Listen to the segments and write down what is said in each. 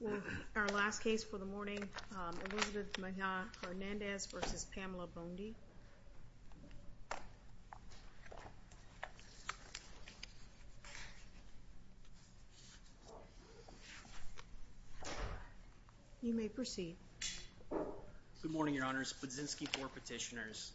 Well, our last case for the morning, Elizabeth Mejia-Hernandez v. Pamela Bondi. You may proceed. Good morning, Your Honors. Budzinski Four Petitioners.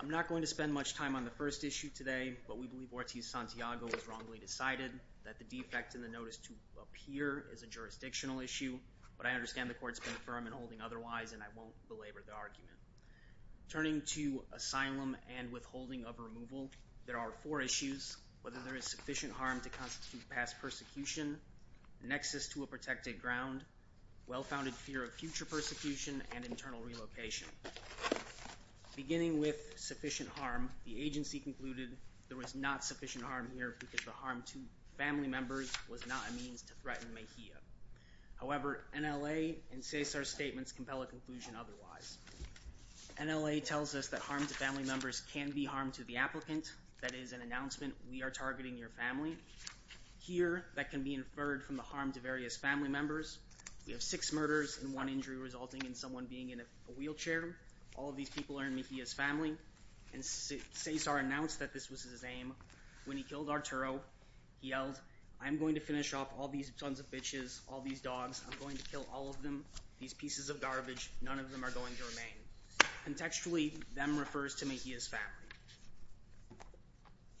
I'm not going to spend much time on the first issue today, but we believe Ortiz-Santiago was wrongly decided that the defect in the notice to appear is a jurisdictional issue, but I understand the court's been firm in holding otherwise, and I won't belabor the argument. Turning to asylum and withholding of removal, there are four issues, whether there is sufficient harm to constitute past persecution, nexus to a protected ground, well-founded fear of future persecution, and internal relocation. Beginning with sufficient harm, the agency concluded there was not sufficient harm here because the harm to family members was not a means to threaten Mejia. However, NLA and Cesar's statements compel a conclusion otherwise. NLA tells us that harm to family members can be harm to the applicant. That is an announcement, we are targeting your family. Here, that can be inferred from the harm to various family members. We have six murders and one injury resulting in someone being in a wheelchair. All of these people are in Mejia's family, and Cesar announced that this was his aim. When he killed Arturo, he yelled, I'm going to finish off all these sons of bitches, all these dogs, I'm going to kill all of them, these pieces of garbage, none of them are going to remain. Contextually, them refers to Mejia's family.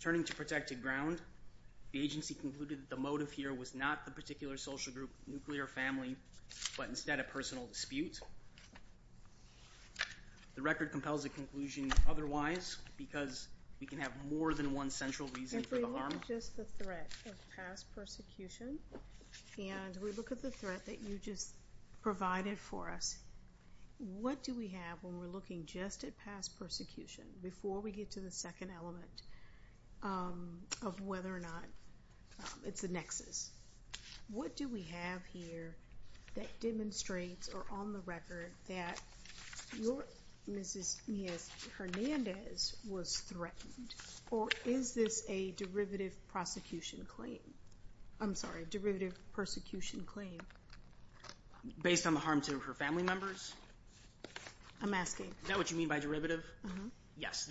Turning to protected ground, the agency concluded the motive here was not the particular social group, nuclear family, but instead a personal dispute. The record compels a conclusion otherwise because we can have more than one central reason for the harm. If we look at just the threat of past persecution, and we look at the threat that you just provided for us, what do we have when we're looking just at past persecution before we get to the second element of whether or not it's a nexus? What do we have here that demonstrates or on the record that your Mrs. Hernandez was threatened, or is this a derivative prosecution claim? I'm sorry, derivative persecution claim. Based on the harm to her family members? I'm asking. Is that what you mean by derivative? Yes,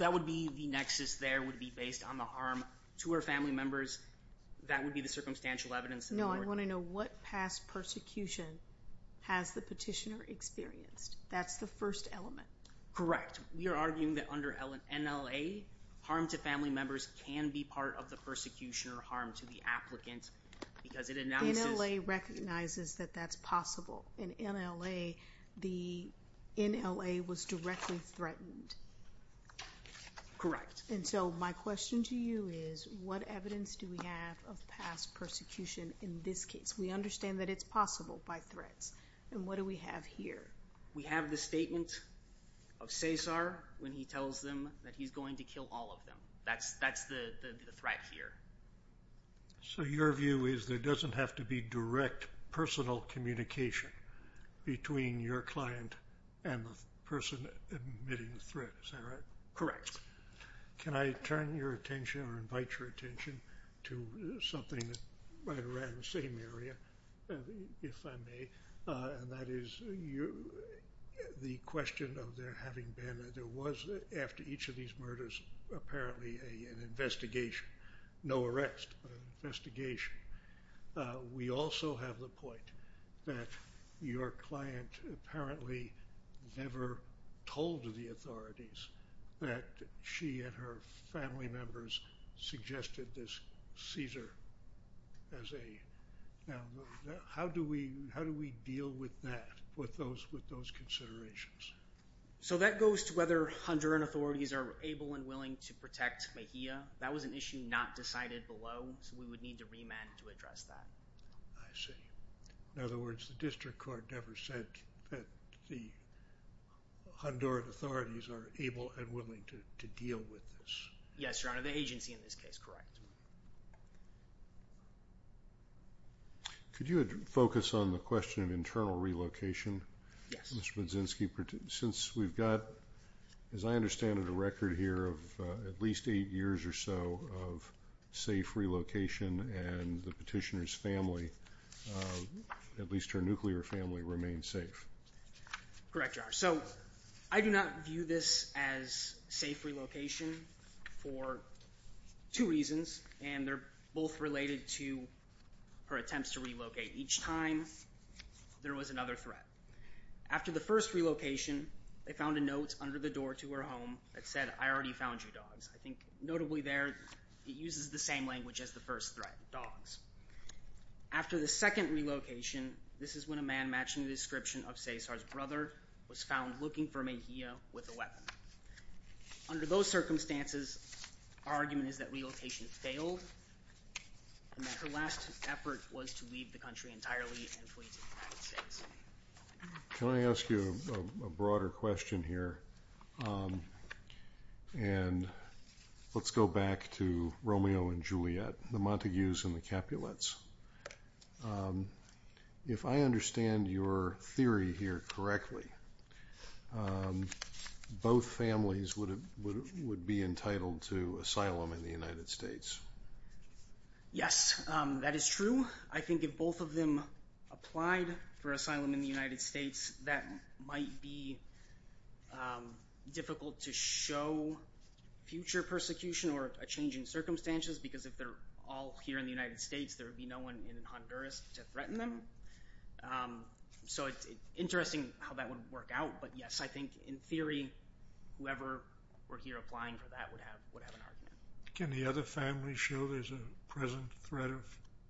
that would be the nexus there, would be based on the harm to her family members. That would be the circumstantial evidence. No, I want to know what past persecution has the petitioner experienced. That's the first element. Correct. We are arguing that under NLA, harm to family members can be part of the persecution or harm to the applicant because it announces... NLA recognizes that that's possible. In NLA, the NLA was directly threatened. Correct. And so my question to you is, what evidence do we have of past persecution in this case? We understand that it's possible by threats. And what do we have here? We have the statement of Cesar when he tells them that he's going to kill all of them. That's the threat here. So your view is there doesn't have to be direct personal communication between your client and the person emitting the threat, is that right? Correct. Can I turn your attention or invite your attention to something right around the same area, if I may, and that is the question of there having been, there was after each of these murders apparently an investigation, no arrest, but an investigation. We also have the point that your client apparently never told the authorities that she and her family members suggested this Cesar as a... How do we deal with that, with those considerations? So that goes to whether Honduran authorities are able and willing to protect Mejia. That was an issue not decided below, so we would need to remand to address that. I see. In other words, the district court never said that the Honduran authorities are able and willing to deal with this. Yes, Your Honor, the agency in this case, correct. Could you focus on the question of internal relocation? Yes. Mr. Budzinski, since we've got, as I understand it, a record here of at least eight years or so of safe relocation and the petitioner's family, at least her nuclear family, remain safe. Correct, Your Honor. So I do not view this as safe relocation for two reasons, and they're both related to her attempts to relocate. Each time, there was another threat. After the first relocation, they found a note under the door to her home that said, I already found you, dogs. I think notably there, it uses the same language as the first threat, dogs. After the second relocation, this is when a man matching the description of Cesar's brother was found looking for Mejia with a weapon. Under those circumstances, our argument is that relocation failed and that her last effort was to leave the country entirely and flee to the United States. Can I ask you a broader question here? And let's go back to Romeo and Juliet, the Montagues and the Capulets. If I understand your theory here correctly, both families would be entitled to asylum in the United States. Yes, that is true. I think if both of them applied for asylum in the United States, that might be difficult to show future persecution or a change in circumstances because if they're all here in the United States, there would be no one in Honduras to threaten them. So it's interesting how that would work out, but yes, I think in theory, whoever were here applying for that would have an argument. Can the other families show there's a present threat of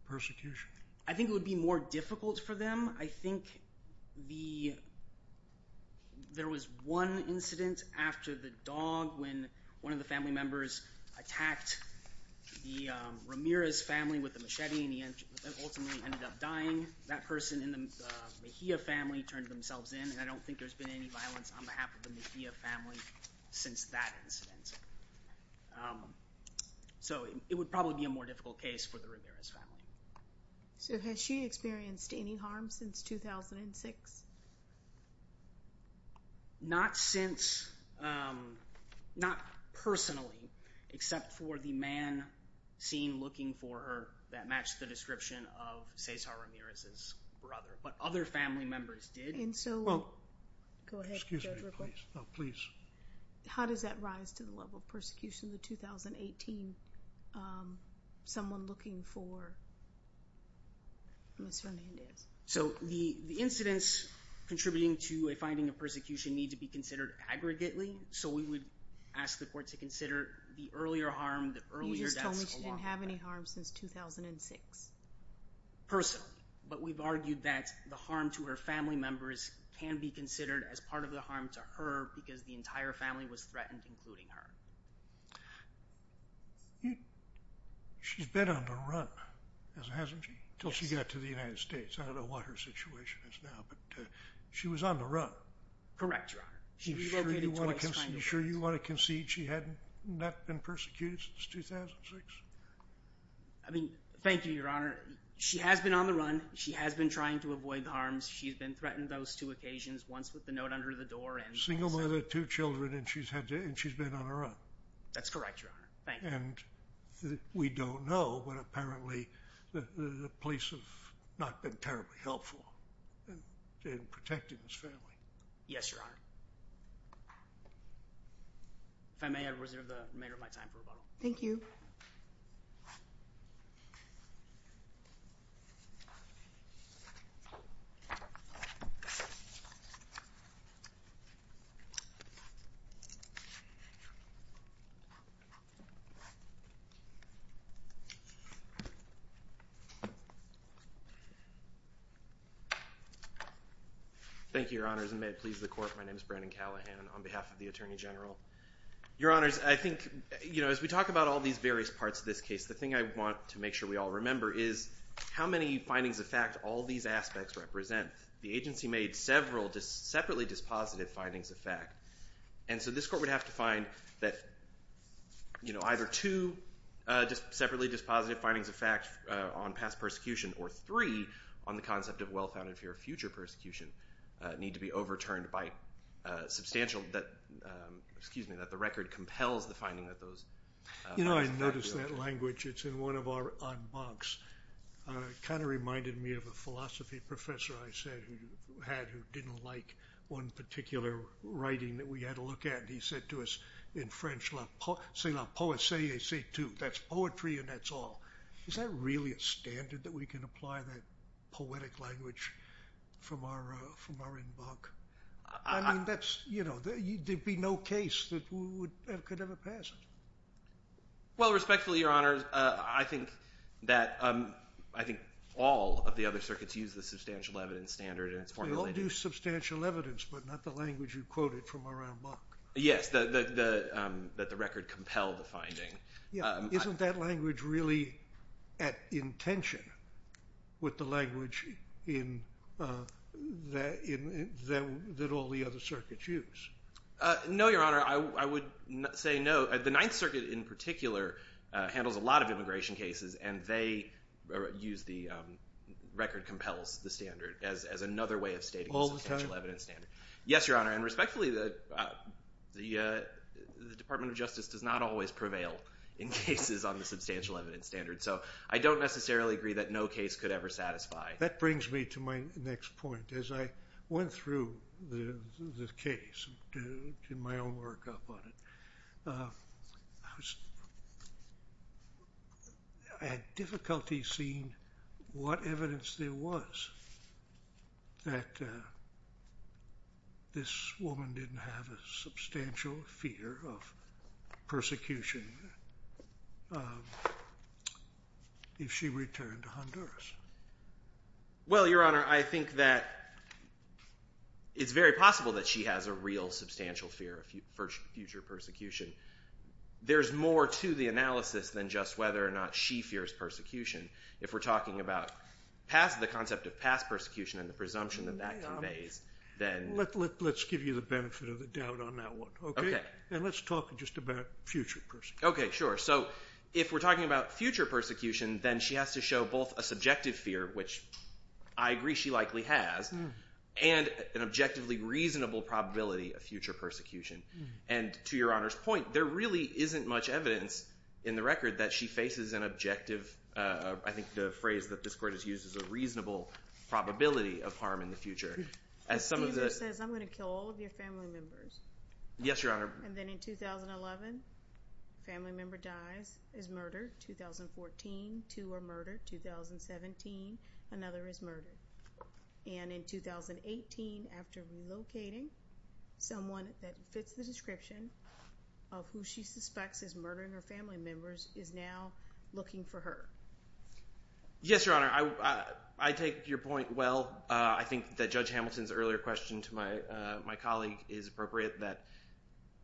persecution? I think it would be more difficult for them. I think there was one incident after the dog when one of the family members attacked the Ramirez family with a machete and he ultimately ended up dying. That person in the Mejia family turned themselves in. I don't think there's been any violence on behalf of the Mejia family since that incident. So it would probably be a more difficult case for the Ramirez family. So has she experienced any harm since 2006? Not since, not personally, except for the man seen looking for her that matched the description of Cesar Ramirez's brother. But other family members did. And so, go ahead, Judge Ripple. Excuse me, please. How does that rise to the level of persecution? The 2018, someone looking for Mr. Hernandez. So the incidents contributing to a finding of persecution need to be considered aggregately. So we would ask the court to consider the earlier harm, the earlier deaths along the way. You just told me she didn't have any harm since 2006. Personally. But we've argued that the harm to her family members can be considered as part of the harm to her because the entire family was threatened, including her. She's been on the run, hasn't she? Until she got to the United States. I don't know what her situation is now. But she was on the run. Correct, Your Honor. Are you sure you want to concede she had not been persecuted since 2006? I mean, thank you, Your Honor. She has been on the run. She has been trying to avoid harms. She's been threatened those two occasions, once with the note under the door. Single mother, two children, and she's been on the run. That's correct, Your Honor. Thank you. And we don't know, but apparently the police have not been terribly helpful in protecting this family. Yes, Your Honor. If I may, I reserve the remainder of my time for rebuttal. Thank you. Thank you, Your Honors, and may it please the Court. My name is Brandon Callahan on behalf of the Attorney General. Your Honors, I think, you know, as we talk about all these various parts of this case, the thing I want to make sure we all remember is how many findings of fact all these aspects represent. The agency made several separately dispositive findings of fact. And so this Court would have to find that, you know, either two or three of these findings or two separately dispositive findings of fact on past persecution or three on the concept of well-founded fear of future persecution need to be overturned by substantial, that, excuse me, that the record compels the finding that those... You know, I noticed that language. It's in one of our unbox. It kind of reminded me of a philosophy professor I said, who had, who didn't like one particular writing that we had to look at. He said to us in French, c'est la poésie et c'est tout. That's poetry and that's all. Is that really a standard that we can apply that poetic language from our unbox? I mean, that's, you know, there'd be no case that we could ever pass it. Well, respectfully, Your Honors, I think that, I think all of the other circuits use the substantial evidence standard and it's more... You use substantial evidence, but not the language you quoted from our unbox. Yes, that the record compelled the finding. Isn't that language really at intention with the language in, that all the other circuits use? No, Your Honor, I would say no. The Ninth Circuit in particular handles a lot of immigration cases and they use the record compels the standard as another way of stating the substantial evidence standard. Yes, Your Honor, and respectfully, the Department of Justice does not always prevail in cases on the substantial evidence standard. So I don't necessarily agree that no case could ever satisfy. That brings me to my next point. As I went through the case, did my own work up on it, I had difficulty seeing what evidence there was that this woman didn't have a substantial fear of persecution if she returned to Honduras. Well, Your Honor, I think that it's very possible that she has a real substantial fear of future persecution. There's more to the analysis than just whether or not she fears persecution. If we're talking about the concept of past persecution and the presumption that that conveys, then... Let's give you the benefit of the doubt on that one, okay? And let's talk just about future persecution. Okay, sure. So if we're talking about future persecution, then she has to show both a subjective fear, which I agree she likely has, and an objectively reasonable probability of future persecution. And to Your Honor's point, there really isn't much evidence in the record that she faces an objective... I think the phrase that this Court has used is a reasonable probability of harm in the future. Steve says, I'm going to kill all of your family members. Yes, Your Honor. And then in 2011, a family member dies, is murdered. 2014, two are murdered. 2017, another is murdered. And in 2018, after relocating, someone that fits the description of who she suspects as murdering her family members is now looking for her. Yes, Your Honor. I take your point well. I think that Judge Hamilton's earlier question to my colleague is appropriate.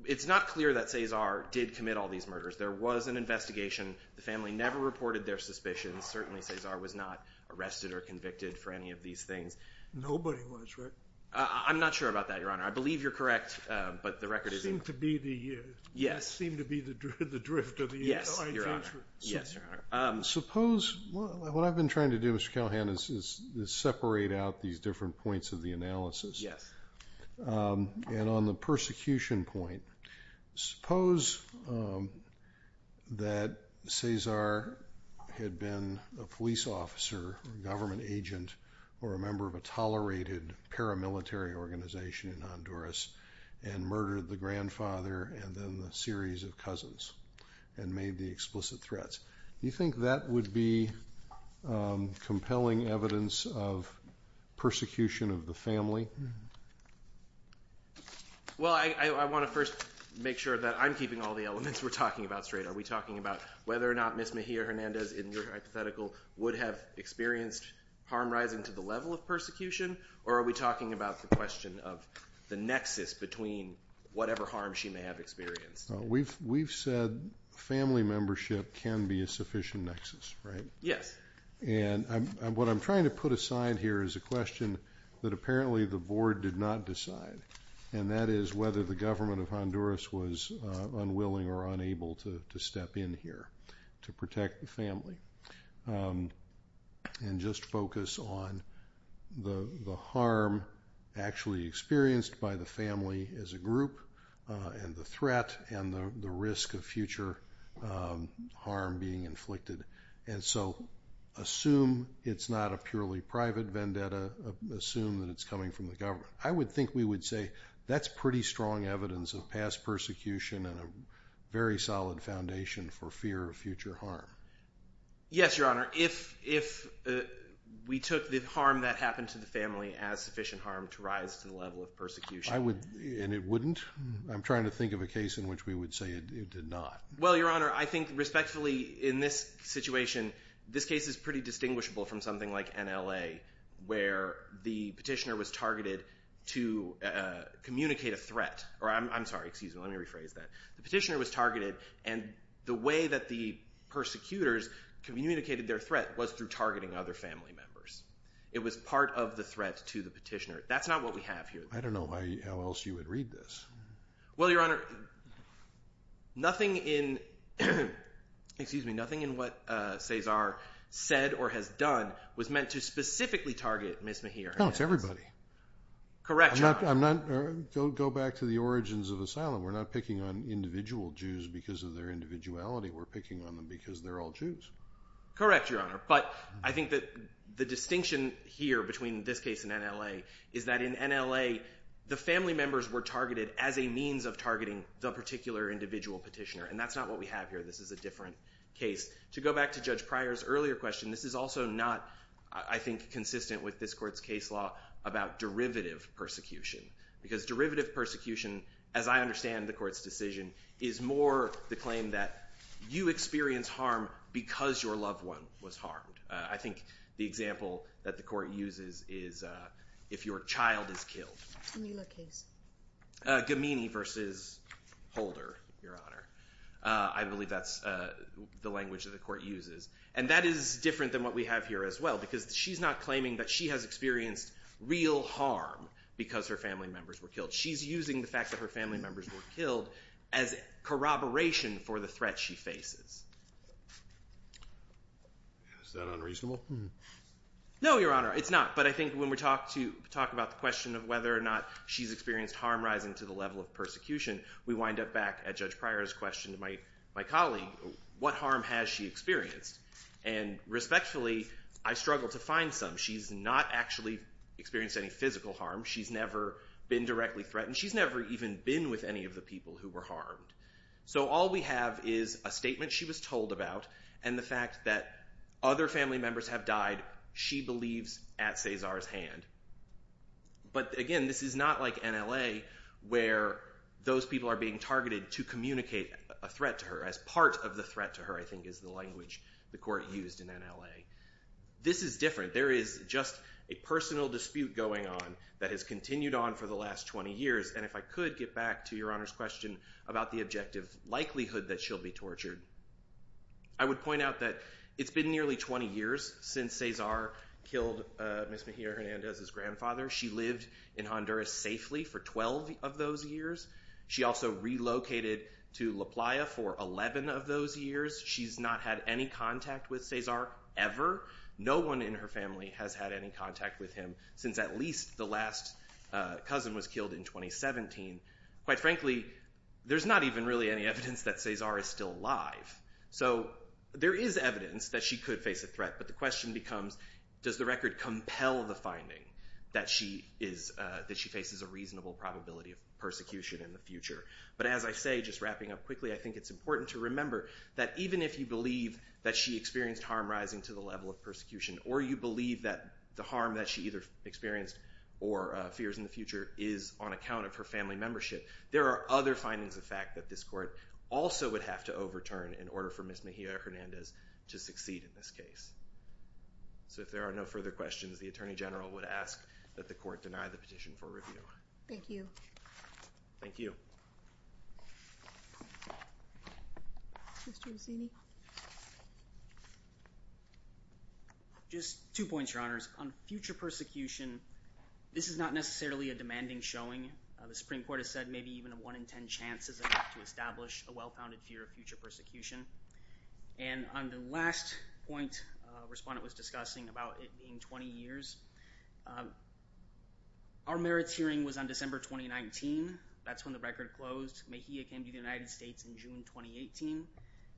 It's not clear that Cesar did commit all these murders. There was an investigation. The family never reported their suspicions. Certainly Cesar was not arrested or convicted for any of these things. Nobody was, right? I'm not sure about that, Your Honor. I believe you're correct, but the record is... It seemed to be the drift of the entire adventure. Yes, Your Honor. Suppose... What I've been trying to do, Mr. Calhoun, is separate out these different points of the analysis. Yes. And on the persecution point, suppose that Cesar had been a police officer, a government agent, or a member of a tolerated paramilitary organization in Honduras and murdered the grandfather and then the series of cousins and made the explicit threats. Do you think that would be compelling evidence of persecution of the family? Well, I want to first make sure that I'm keeping all the elements we're talking about straight. Are we talking about whether or not Ms. Mejia Hernandez, in your hypothetical, would have experienced harm rising to the level of persecution? Or are we talking about the question of the nexus between whatever harm she may have experienced? We've said family membership can be a sufficient nexus, right? Yes. And what I'm trying to put aside here is a question that apparently the Board did not decide. And that is whether the government of Honduras was unwilling or unable to step in here to protect the family. And just focus on the harm actually experienced by the family as a group and the threat and the risk of future harm being inflicted. Assume it's not a purely private vendetta. Assume that it's coming from the government. I would think we would say that's pretty strong evidence of past persecution and a very solid foundation for fear of future harm. Yes, Your Honor. If we took the harm that happened to the family as sufficient harm to rise to the level of persecution. And it wouldn't? I'm trying to think of a case in which we would say it did not. Well, Your Honor, I think respectfully in this situation, this case is pretty distinguishable from something like NLA where the petitioner was targeted to communicate a threat. I'm sorry, excuse me. Let me rephrase that. The petitioner was targeted and the way that the persecutors communicated their threat was through targeting other family members. It was part of the threat to the petitioner. That's not what we have here. I don't know how else you would read this. Well, Your Honor, nothing in what Cesar said or has done was meant to specifically target Ms. Mejia. No, it's everybody. Go back to the origins of asylum. We're not picking on individual Jews because of their individuality. We're picking on them because they're all Jews. Correct, Your Honor, but I think that the distinction here between this case and NLA is that in NLA, the family members were targeted as a means of targeting the particular individual petitioner. And that's not what we have here. This is a different case. To go back to Judge Pryor's earlier question, this is also not consistent with this court's case law about derivative persecution because derivative persecution, as I understand the court's decision, is more the claim that you experience harm because your loved one was harmed. I think the example that the court uses is if your child is killed. Gamini versus Holder, Your Honor. I believe that's the language that the court uses. And that is different than what we have here as well because she's not claiming that she has experienced real harm because her family members were killed. She's using the fact that her family members were killed as corroboration for the threat she faces. Is that unreasonable? No, Your Honor. It's not. But I think when we talk about the question of whether or not she's experienced harm rising to the level of persecution, we wind up back at Judge Pryor's question to my colleague, what harm has she experienced? And respectfully, I struggle to find some. She's not actually experienced any physical harm. She's never been directly threatened. She's never even been with any of the people who were harmed. So all we have is a statement she was told about and the fact that other family members have died she believes at Cesar's hand. But again, this is not like NLA where those people are being targeted to communicate a threat to her as part of the threat to her, I think, is the language the court used in NLA. This is different. There is just a personal dispute going on that has continued on for the last 20 years. And if I could get back to Your Honor's question about the objective likelihood that she'll be tortured, I would point out that it's been nearly 20 years since Cesar killed Ms. Mejia Hernandez's grandfather. She lived in Honduras safely for 12 of those years. She also relocated to La Playa for 11 of those years. She's not had any contact with Cesar ever. No one in her family has had any contact with him since at least the last cousin was killed in 2017. Quite frankly, there's not even really any evidence that Cesar is still alive. So there is evidence that she could face a threat, but the question becomes does the record compel the finding that she faces a reasonable probability of persecution in the future. But as I say, just wrapping up quickly, I think it's important to remember that even if you believe that she experienced harm rising to the level of persecution or you believe that the harm that she either experienced or fears in the future is on account of her family membership, there are other findings of fact that this Court also would have to overturn in order for Ms. Mejia Hernandez to succeed in this case. So if there are no further questions, the Attorney General would ask that the Court deny the petition for review. Thank you. Just two points, Your Honors. On future persecution, this is not necessarily a demanding showing. The Supreme Court has said maybe even a 1 in 10 chance is enough to establish a well-founded fear of future persecution. And on the last point a respondent was discussing about it being 20 years, our merits hearing was on December 2019. That's when the record closed. Mejia came to the United States in June 2018.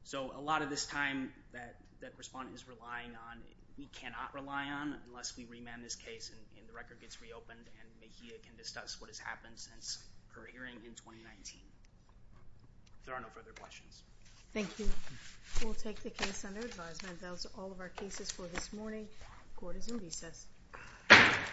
So a lot of this time that respondent is relying on, we cannot rely on unless we remand this case and the record gets reopened and Mejia can discuss what has happened since her hearing in 2019. If there are no further questions. Thank you. We'll take the case under advisement. Those are all of our cases for this morning. Court is in recess. Thank you.